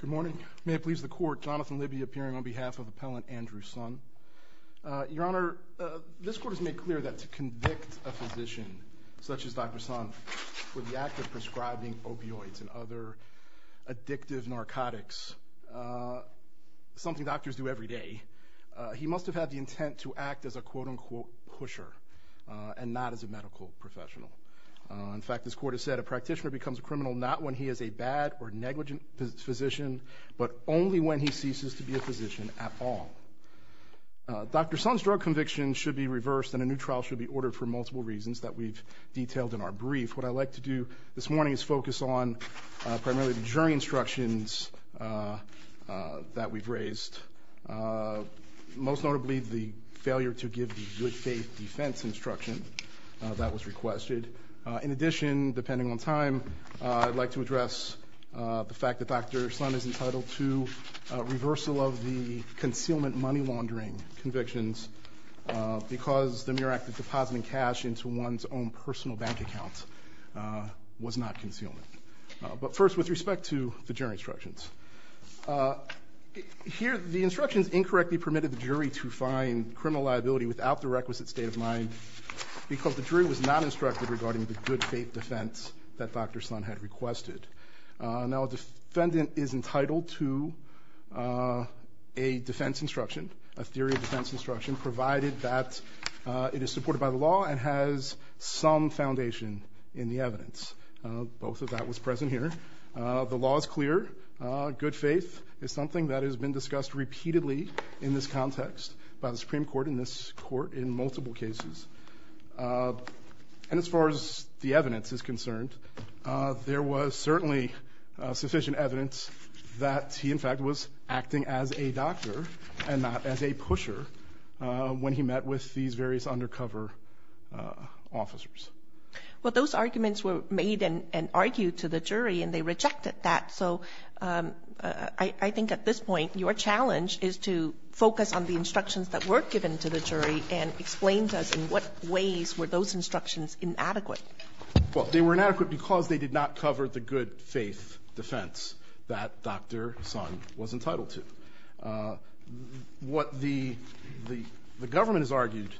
Good morning. May it please the court, Jonathan Libby appearing on behalf of appellant Andrew Sun. Your Honor, this court has made clear that to convict a physician such as Dr. Sun for the act of prescribing opioids and other addictive narcotics, something doctors do every day, he must have had the intent to act as a quote-unquote pusher and not as a medical professional. In fact, this court has said a practitioner becomes a criminal not when he is a bad or negligent physician but only when he ceases to be a physician at all. Dr. Sun's drug conviction should be reversed and a new trial should be ordered for multiple reasons that we've detailed in our brief. What I'd like to do this morning is focus on primarily the jury instructions that we've raised, most notably the good faith defense instruction that was requested. In addition, depending on time, I'd like to address the fact that Dr. Sun is entitled to reversal of the concealment money laundering convictions because the mere act of depositing cash into one's own personal bank account was not concealment. But first, with respect to the jury instructions, here the instructions incorrectly permitted the requisite state of mind because the jury was not instructed regarding the good faith defense that Dr. Sun had requested. Now a defendant is entitled to a defense instruction, a theory of defense instruction, provided that it is supported by the law and has some foundation in the evidence. Both of that was present here. The law is clear. Good faith is something that has been in multiple cases. And as far as the evidence is concerned, there was certainly sufficient evidence that he, in fact, was acting as a doctor and not as a pusher when he met with these various undercover officers. Well, those arguments were made and argued to the jury and they rejected that. So I think at this point, your challenge is to focus on the instructions that were given to the jury and explain to us in what ways were those instructions inadequate. Well, they were inadequate because they did not cover the good faith defense that Dr. Sun was entitled to. What the government has argued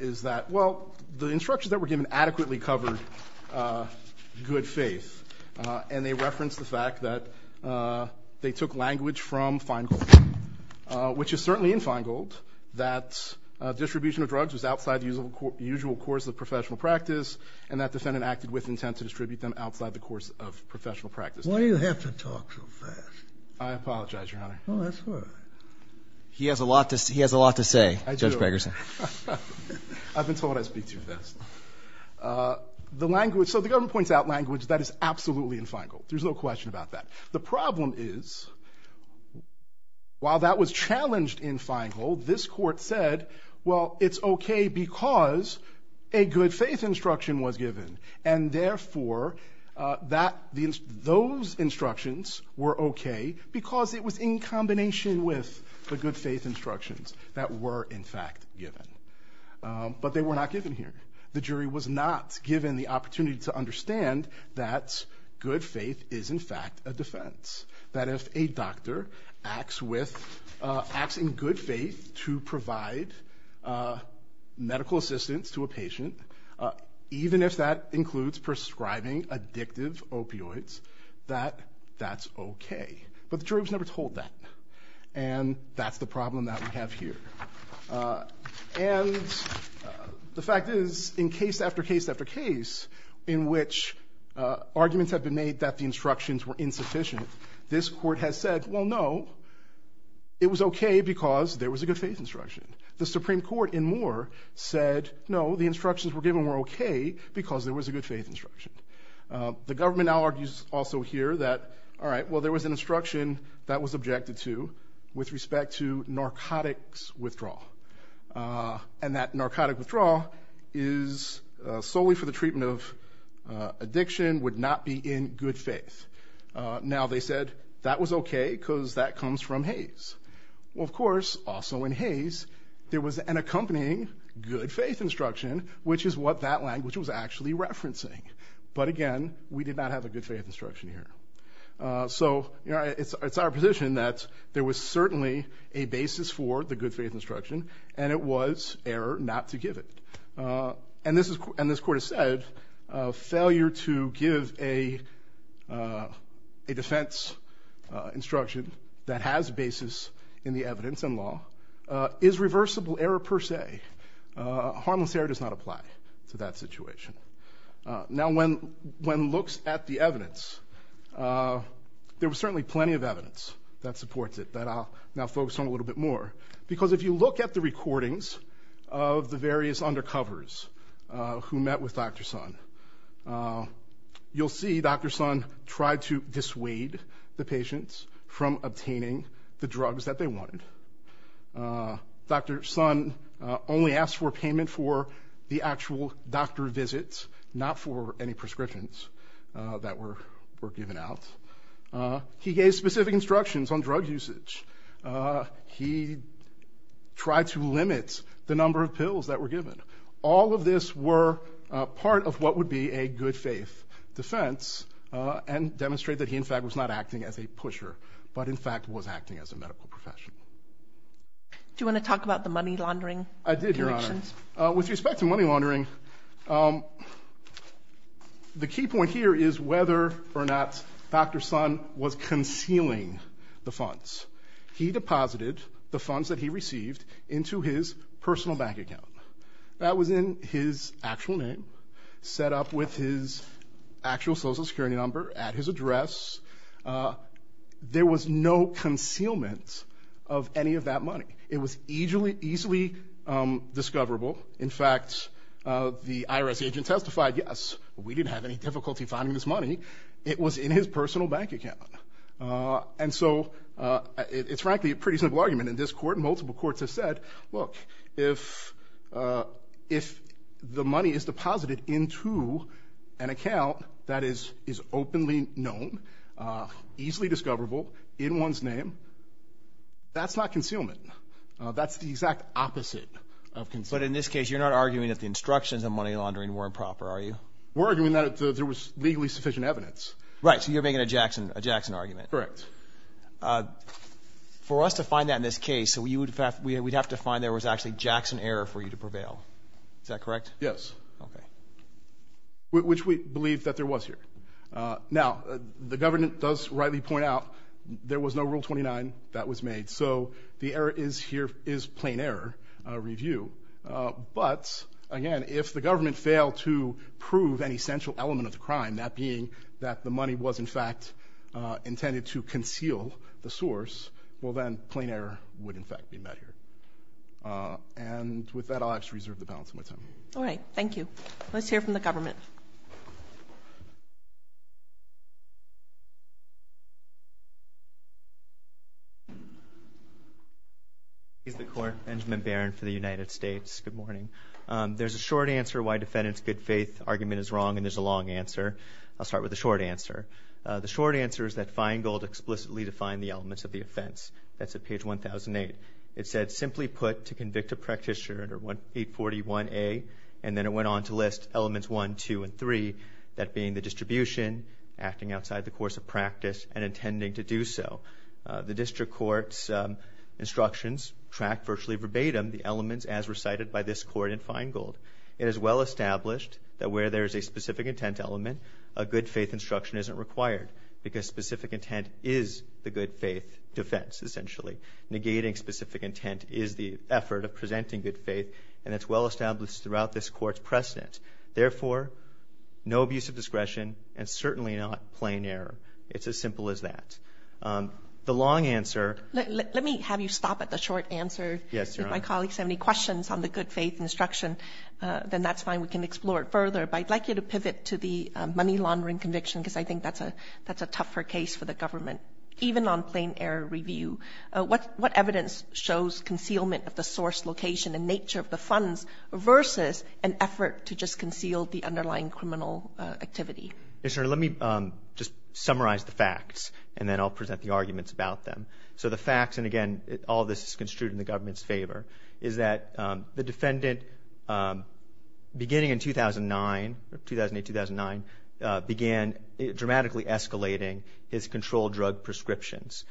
is that, well, the instructions that were given adequately covered good faith. And they referenced the fact that they took language from Feingold, which is certainly in Feingold that distribution of drugs was outside the usual course of professional practice and that defendant acted with intent to distribute them outside the course of professional practice. Why do you have to talk so fast? I apologize, Your Honor. Oh, that's all right. He has a lot to say, Judge Pegerson. I've been told I speak too fast. So the government points out language that is inadequate. The problem is, while that was challenged in Feingold, this Court said, well, it's okay because a good faith instruction was given. And therefore, those instructions were okay because it was in combination with the good faith instructions that were in fact given. But they were not given here. The jury was not given the fact of defense, that if a doctor acts in good faith to provide medical assistance to a patient, even if that includes prescribing addictive opioids, that that's okay. But the jury was never told that. And that's the problem that we have here. And the fact is, in case after case after case in which arguments have been made that the instructions were insufficient, this Court has said, well, no, it was okay because there was a good faith instruction. The Supreme Court in Moore said, no, the instructions were given were okay because there was a good faith instruction. The government now argues also here that, all right, well, there was an instruction that was objected to with respect to narcotics withdrawal. And that narcotic withdrawal is solely for the treatment of addiction, would not be in good faith. Now they said that was okay because that comes from Hays. Well, of course, also in Hays, there was an accompanying good faith instruction, which is what that language was actually referencing. But again, we did not have a good faith instruction here. So, you know, it's our position that there was certainly a basis for the good faith instruction, and it was error not to give it. And this Court has said, failure to give a defense instruction that has basis in the evidence and law is reversible error per se. Harmless error does not apply to that situation. Now, when one looks at the evidence, there was certainly plenty of evidence that supports it that I'll now focus on a because if you look at the recordings of the various undercovers who met with Dr. Sun, you'll see Dr. Sun tried to dissuade the patients from obtaining the drugs that they wanted. Dr. Sun only asked for payment for the actual doctor visits, not for any prescriptions that were given out. He gave specific instructions on drug usage. He tried to limit the number of pills that were given. All of this were part of what would be a good faith defense and demonstrate that he in fact was not acting as a pusher, but in fact was acting as a medical professional. Do you want to talk about the money laundering? I did, Your Honor. With respect to money laundering, the key point here is whether or not Dr. Sun was concealing the funds. He deposited the funds that he received into his personal bank account. That was in his actual name, set up with his actual Social Security number at his address. There was no concealment of any of that money. It was easily discoverable. In fact, the IRS agent testified, yes, we didn't have any difficulty finding this money. It was in his personal bank account. And so it's frankly a pretty simple argument in this court. Multiple courts have said, look, if the money is deposited into an account that is openly known, easily discoverable, in one's name, that's not concealment. That's the exact opposite of concealment. But in this case, you're not arguing that the instructions on money laundering were improper, are you? We're arguing that there was legally sufficient evidence. Right, so you're making a Jackson argument. Correct. For us to find that in this case, we'd have to find there was actually Jackson error for you to prevail. Is that correct? Yes. Okay. Which we believe that there was here. Now, the government does rightly point out there was no Rule 29 that was made, so the error is here, is plain error review. But again, if the government failed to prove an essential element of the crime, that being that the money was in fact intended to conceal the source, well then, plain error would in fact be met here. And with that, I'll actually reserve the balance of my time. All right, thank you. Let's hear from the government. Benjamin Barron for the United States. Good morning. There's a short answer why defendant's good-faith argument is wrong, and there's a long answer. I'll start with the short answer. The short answer is that Feingold explicitly defined the elements of the offense. That's at page 1008. It said, simply put, to convict a practitioner under 841A, and then it went on to list elements 1, 2, and 3, that being the distribution, acting outside the course of practice, and intending to do so. The district court's instructions track virtually verbatim the elements as recited by this court in Feingold. It is well established that where there is a specific intent element, a good-faith instruction isn't required, because specific intent is the good-faith defense, essentially. Negating specific intent is the effort of presenting good faith, and it's well established throughout this court's precedent. Therefore, no abuse of It's as simple as that. The long answer... Let me have you stop at the short answer. Yes, Your Honor. If my colleagues have any questions on the good-faith instruction, then that's fine. We can explore it further, but I'd like you to pivot to the money laundering conviction, because I think that's a tougher case for the government, even on plain error review. What evidence shows concealment of the source location and nature of the funds versus an effort to just conceal the underlying criminal activity? Yes, Your Honor. Let me just summarize the facts, and then I'll present the arguments about them. So the facts, and again, all this is construed in the government's favor, is that the defendant, beginning in 2009, 2008-2009, began dramatically escalating his controlled drug prescriptions.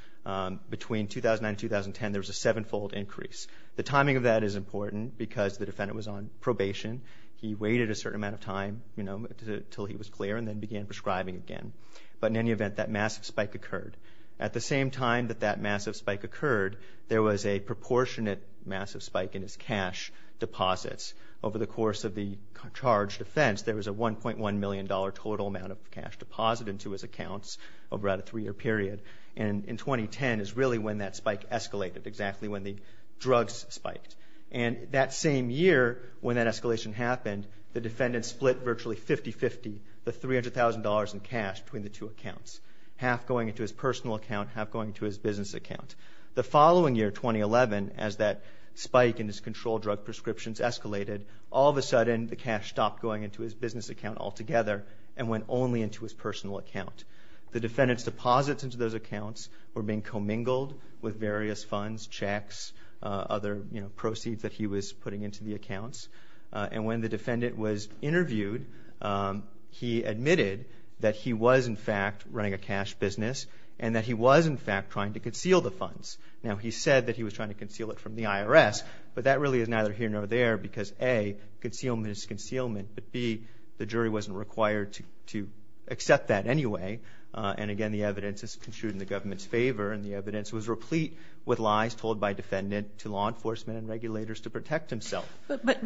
Between 2009-2010, there was a seven-fold increase. The timing of that is important, because the defendant was on probation. He waited a certain amount of time, you know, until he was clear, and then began prescribing again. But in any event, that massive spike occurred. At the same time that that massive spike occurred, there was a proportionate massive spike in his cash deposits. Over the course of the charged offense, there was a 1.1 million dollar total amount of cash deposited into his accounts over a three-year period. And in 2010 is really when that spike escalated, exactly when the drugs spiked. And that same year, when that escalation happened, the defendant split virtually 50-50 the $300,000 in cash between the two accounts. Half going into his personal account, half going to his business account. The following year, 2011, as that spike in his controlled drug prescriptions escalated, all of a sudden the cash stopped going into his business account altogether, and went only into his personal account. The defendant's deposits into those accounts were being commingled with various funds, checks, other, you know, proceeds that he was putting into the accounts. And when the defendant was interviewed, he admitted that he was, in fact, running a cash business, and that he was, in fact, trying to conceal the funds. Now he said that he was trying to conceal it from the IRS, but that really is neither here nor there, because A, concealment is concealment, but B, the jury wasn't required to accept that anyway. And again, the evidence is construed in the by defendant to law enforcement and regulators to protect himself. But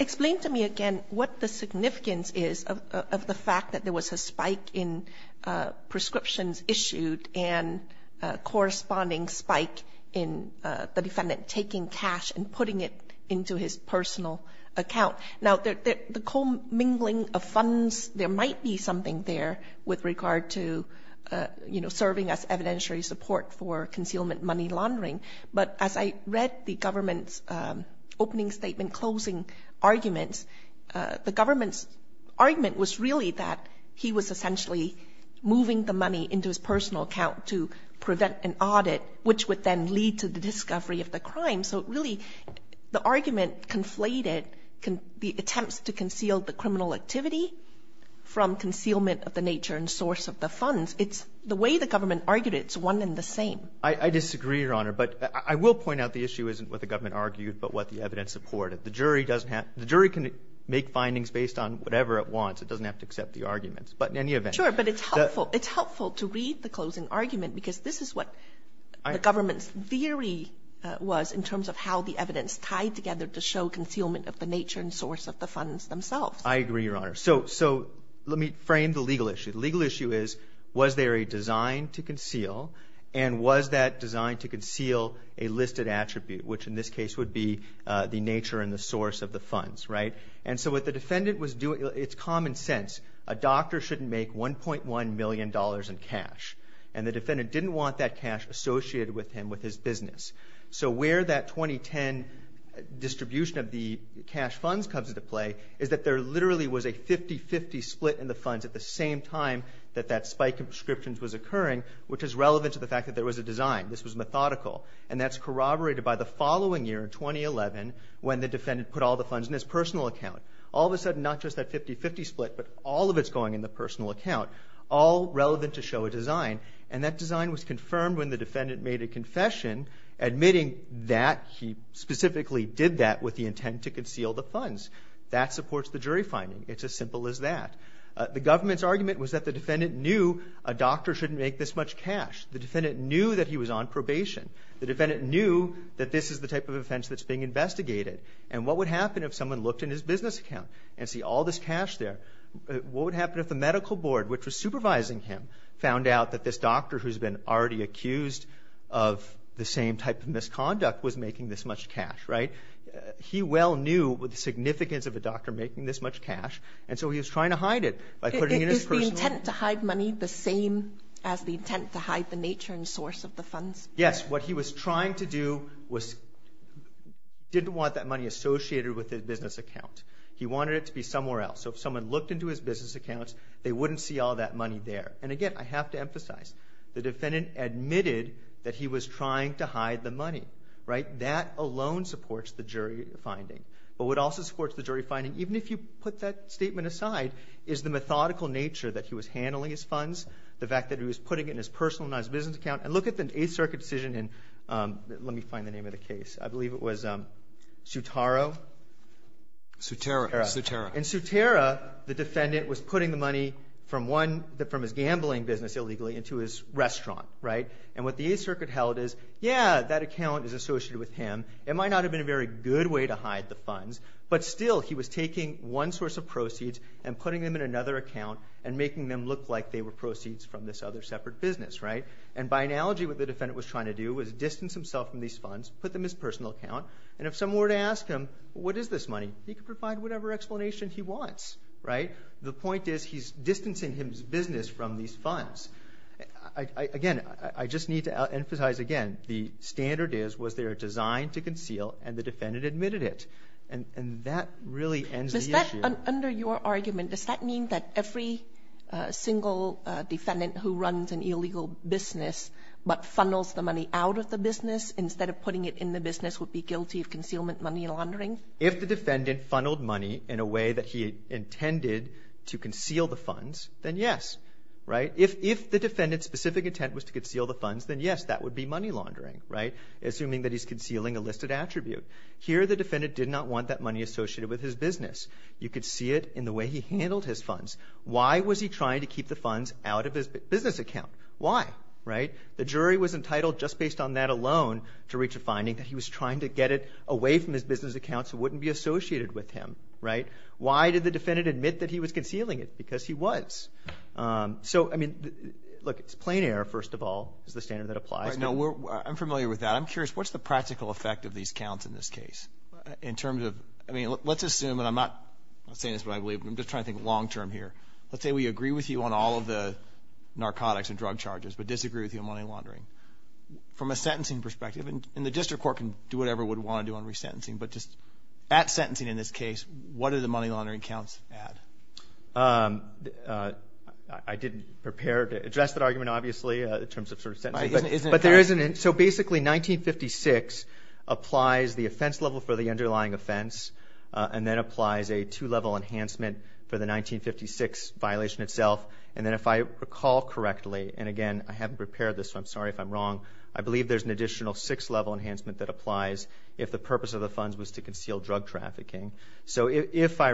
explain to me again what the significance is of the fact that there was a spike in prescriptions issued, and a corresponding spike in the defendant taking cash and putting it into his personal account. Now, the commingling of funds, there might be something there with regard to, you know, serving as evidentiary support for concealment money laundering. But as I read the government's opening statement, closing arguments, the government's argument was really that he was essentially moving the money into his personal account to prevent an audit, which would then lead to the discovery of the crime. So really, the argument conflated the attempts to conceal the criminal activity from concealment of the nature and source of the funds. It's the way the government argued it, it's one and the same. I disagree, Your Honor. But I will point out the issue isn't what the government argued, but what the evidence supported. The jury doesn't have to, the jury can make findings based on whatever it wants. It doesn't have to accept the arguments. But in any event. Sure, but it's helpful, it's helpful to read the closing argument because this is what the government's theory was in terms of how the evidence tied together to show concealment of the nature and source of the funds themselves. I agree, Your Honor. So, so let me frame the legal issue. The legal issue is, was there a design to conceal, and was that designed to conceal a listed attribute, which in this case would be the nature and the source of the funds, right? And so what the defendant was doing, it's common sense, a doctor shouldn't make 1.1 million dollars in cash. And the defendant didn't want that cash associated with him, with his business. So where that 2010 distribution of the cash funds comes into play is that there was a design. This was methodical. And that's corroborated by the following year, 2011, when the defendant put all the funds in his personal account. All of a sudden, not just that 50-50 split, but all of it's going in the personal account, all relevant to show a design. And that design was confirmed when the defendant made a confession, admitting that he specifically did that with the intent to conceal the funds. That supports the jury finding. It's as simple as that. The government's argument was that the defendant knew a doctor shouldn't make this much cash. The defendant knew that he was on probation. The defendant knew that this is the type of offense that's being investigated. And what would happen if someone looked in his business account and see all this cash there? What would happen if the medical board, which was supervising him, found out that this doctor who's been already accused of the same type of misconduct was making this much cash, right? He well knew what the significance of a doctor making this much cash, and so he was trying to hide it by putting it in his personal... Is the intent to hide money the same as the intent to hide the nature and source of the funds? Yes. What he was trying to do was didn't want that money associated with his business account. He wanted it to be somewhere else. So if someone looked into his business accounts, they wouldn't see all that money there. And again, I have to emphasize, the defendant admitted that he was trying to hide the money, right? That alone supports the jury finding. But what also supports the jury finding, even if you put that statement aside, is the methodical nature that he was handling his funds, the fact that he was putting it in his personal, not his business account. And look at the Eighth Circuit decision in... Let me find the name of the case. I believe it was Sutaro? Sutera. Sutera. In Sutera, the defendant was putting the money from one... From his gambling business illegally into his restaurant, right? And what the Eighth Circuit held is, yeah, that account is associated with him. It might not have been a very good way to hide the funds, but still, he was taking one source of proceeds and putting them in another account and making them look like they were proceeds from this other separate business, right? And by analogy, what the defendant was trying to do was distance himself from these funds, put them in his personal account, and if someone were to ask him, what is this money? He could provide whatever explanation he wants, right? The point is, he's distancing his business from these funds. Again, I just need to emphasize again, the standard is, they are designed to conceal and the defendant admitted it. And that really ends the issue. Under your argument, does that mean that every single defendant who runs an illegal business but funnels the money out of the business instead of putting it in the business would be guilty of concealment money laundering? If the defendant funneled money in a way that he intended to conceal the funds, then yes, right? If the defendant's specific intent was to that he's concealing a listed attribute. Here, the defendant did not want that money associated with his business. You could see it in the way he handled his funds. Why was he trying to keep the funds out of his business account? Why? Right? The jury was entitled, just based on that alone, to reach a finding that he was trying to get it away from his business account so it wouldn't be associated with him, right? Why did the defendant admit that he was concealing it? Because he was. So, I mean, look, it's plain error, first of all, is the standard that applies. Now, I'm familiar with that. I'm curious, what's the practical effect of these counts in this case? In terms of, I mean, let's assume, and I'm not saying this, but I believe, I'm just trying to think long-term here. Let's say we agree with you on all of the narcotics and drug charges, but disagree with you on money laundering. From a sentencing perspective, and the district court can do whatever would want to do on resentencing, but just at sentencing in this case, what are the money laundering counts at? I didn't prepare to address that argument, obviously, in terms of sentencing, but there isn't. So, basically, 1956 applies the offense level for the underlying offense, and then applies a two-level enhancement for the 1956 violation itself, and then if I recall correctly, and again, I haven't prepared this, so I'm sorry if I'm wrong, I believe there's an additional six-level enhancement that applies if the purpose of the funds was to conceal drug trafficking. So, if I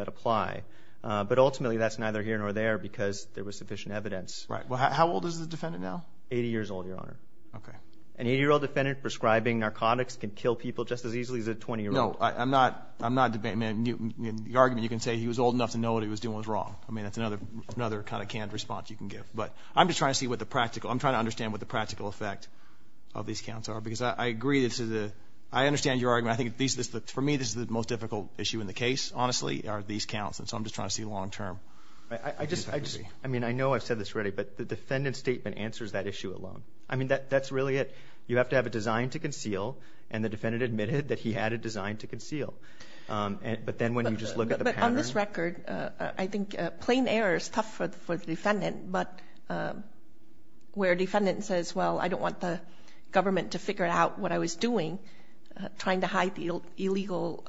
apply, but ultimately, that's neither here nor there because there was sufficient evidence. Right. Well, how old is the defendant now? 80 years old, your Honor. Okay. An 80-year-old defendant prescribing narcotics can kill people just as easily as a 20-year-old. No, I'm not, I'm not debating, I mean, the argument, you can say he was old enough to know what he was doing was wrong. I mean, that's another, another kind of canned response you can give, but I'm just trying to see what the practical, I'm trying to understand what the practical effect of these counts are, because I agree, this is a, I understand your argument. I think these, for me, this is the most difficult issue in the case, honestly, are these counts, and so I'm just trying to see long-term. I just, I just, I mean, I know I've said this already, but the defendant's statement answers that issue alone. I mean, that, that's really it. You have to have a design to conceal, and the defendant admitted that he had a design to conceal, but then when you just look at the pattern. But on this record, I think plain error is tough for the, for the defendant, but where a defendant says, well, I don't want the government to figure out what I was doing, trying to hide the illegal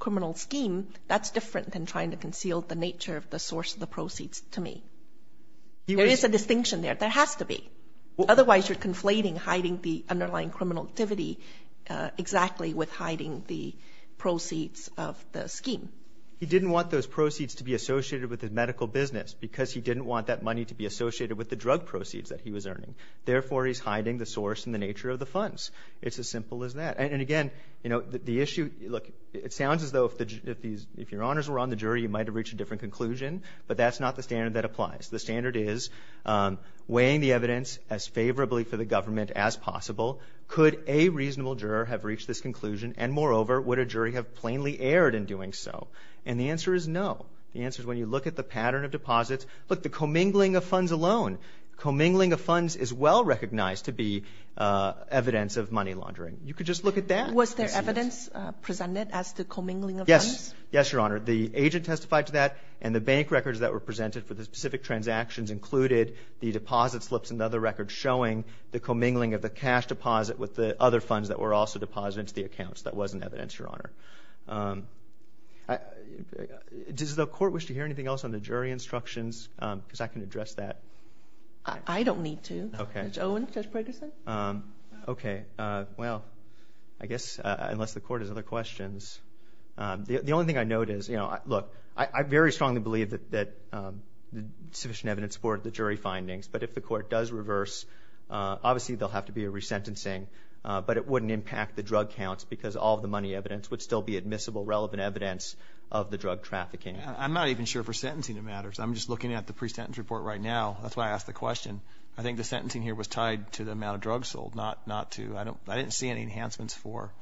criminal scheme, that's different than trying to conceal the nature of the source of the proceeds to me. There is a distinction there. There has to be. Otherwise, you're conflating hiding the underlying criminal activity exactly with hiding the proceeds of the scheme. He didn't want those proceeds to be associated with his medical business, because he didn't want that money to be associated with the drug proceeds that he was earning. Therefore, he's hiding the source and the nature of the funds. It's as simple as that. And again, you know, the issue, look, it sounds as though if the, if these, if your honors were on the jury, you might have reached a different conclusion, but that's not the standard that applies. The standard is weighing the evidence as favorably for the government as possible. Could a reasonable juror have reached this conclusion, and moreover, would a jury have plainly erred in doing so? And the answer is no. The answer is when you look at the pattern of deposits, look, the commingling of funds alone, commingling of funds is well recognized to be evidence of money laundering. You could just look at that. Was there evidence presented as to commingling of funds? Yes. Yes, your honor. The agent testified to that, and the bank records that were presented for the specific transactions included the deposit slips and other records showing the commingling of the cash deposit with the other funds that were also deposited into the accounts. That wasn't evidence, your honor. Does the court wish to hear anything else on the jury instructions? Because I can need to. Okay. Judge Owen, Judge Peterson? Okay. Well, I guess unless the court has other questions. The only thing I know it is, you know, look, I very strongly believe that sufficient evidence supported the jury findings, but if the court does reverse, obviously there'll have to be a resentencing, but it wouldn't impact the drug counts because all the money evidence would still be admissible, relevant evidence of the drug trafficking. I'm not even sure if resentencing matters. I'm just looking at the pre-sentence report right now. That's why I asked the question. I think the sentencing here was tied to the amount of drugs sold, not to, I don't, I didn't see any enhancements for.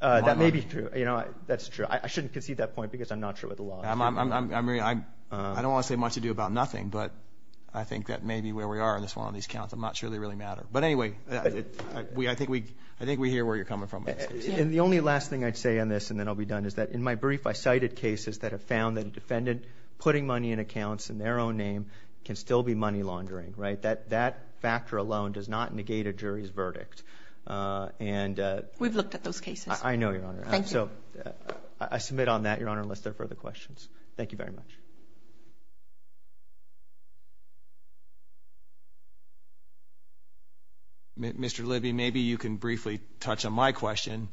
That may be true, you know, that's true. I shouldn't concede that point because I'm not sure with the law. I don't want to say much to do about nothing, but I think that may be where we are in this one on these counts. I'm not sure they really matter, but anyway, I think we hear where you're coming from. And the only last thing I'd say on this, and then I'll be done, is that in my brief, I cited cases that have found that a defendant putting money in accounts in their own name can still be money laundering, right? That factor alone does not negate a jury's verdict. And we've looked at those cases. I know, Your Honor. Thank you. So I submit on that, Your Honor, unless there are further questions. Thank you very much. Mr. Libby, maybe you can briefly touch on my question.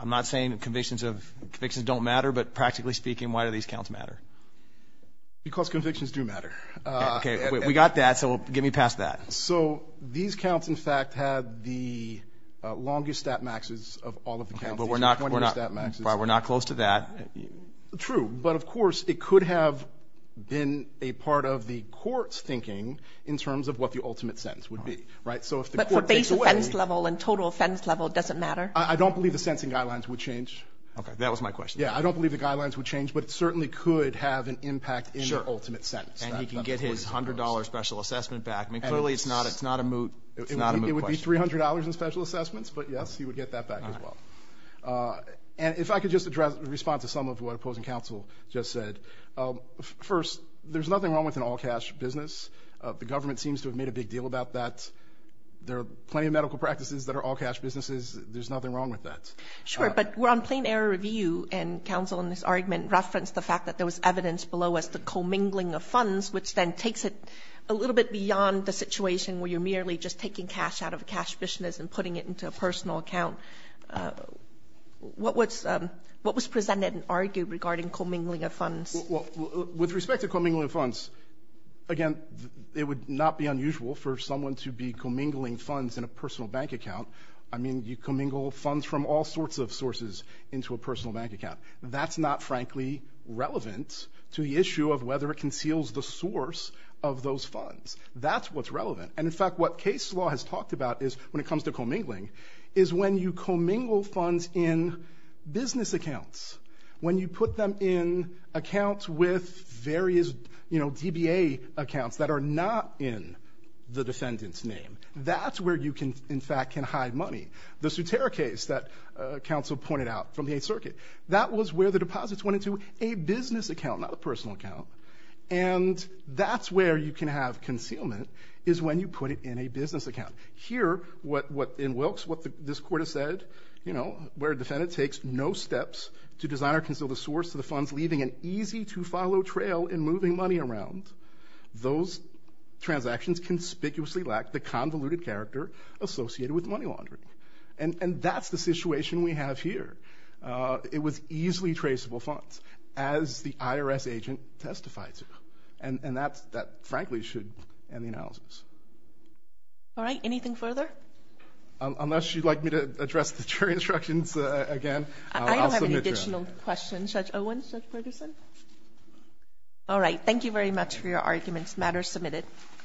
I'm not saying convictions of convictions don't matter, but practically speaking, why do these counts matter? Because convictions do matter. Okay, we got that, so get me past that. So these counts, in fact, have the longest stat maxes of all of the counts. But we're not close to that. True, but of course it could have been a part of the court's thinking in terms of what the ultimate sentence would be, right? But for base offense level and total offense level, does it matter? I don't believe the sentencing guidelines would change. Okay, that was my question. Yeah, I don't believe the guidelines would change, but it certainly could have an impact in the ultimate sentence. And he can get his $100 special assessment back. I mean, clearly it's not a moot question. It would be $300 in special assessments, but yes, he would get that back as well. And if I could just address, respond to some of what opposing counsel just said. First, there's nothing wrong with an all-cash business. The government seems to have made a big deal about that. There are plenty of medical practices that are all-cash businesses. There's nothing wrong with that. Sure, but we're on plain error review, and counsel in this argument referenced the fact that there was evidence below as the commingling of funds, which then takes it a little bit beyond the situation where you're merely just taking cash out of a cash business and putting it into a personal account. What was presented and argued regarding commingling of funds? With respect to commingling of funds, again, it would not be unusual for someone to be commingling funds in a personal bank account. I mean, you commingle funds from all sorts of sources into a personal bank account. That's not, frankly, relevant to the issue of whether it conceals the source of those funds. That's what's relevant. And in fact, what case law has talked about is, when it comes to commingling, is when you commingle funds in business accounts, when you put them in accounts with various, you know, DBA accounts that are not in the defendant's name. That's where you can, in fact, hide money. The Soutera case that counsel pointed out from the Eighth Circuit, that was where the deposits went into a business account, not a personal account. And that's where you can have concealment, is when you put it in a business account. Here, in Wilkes, what this court has said, you know, where a defendant takes no steps to design or conceal the source of the funds, leaving an easy-to-follow trail in moving money around, those money laundering. And that's the situation we have here. It was easily traceable funds, as the IRS agent testified to. And that, frankly, should end the analysis. All right, anything further? Unless you'd like me to address the jury instructions again, I'll submit to you. I don't have any additional questions. Judge Owen? Judge Ferguson? All right, thank you very much for your arguments. Matter is submitted.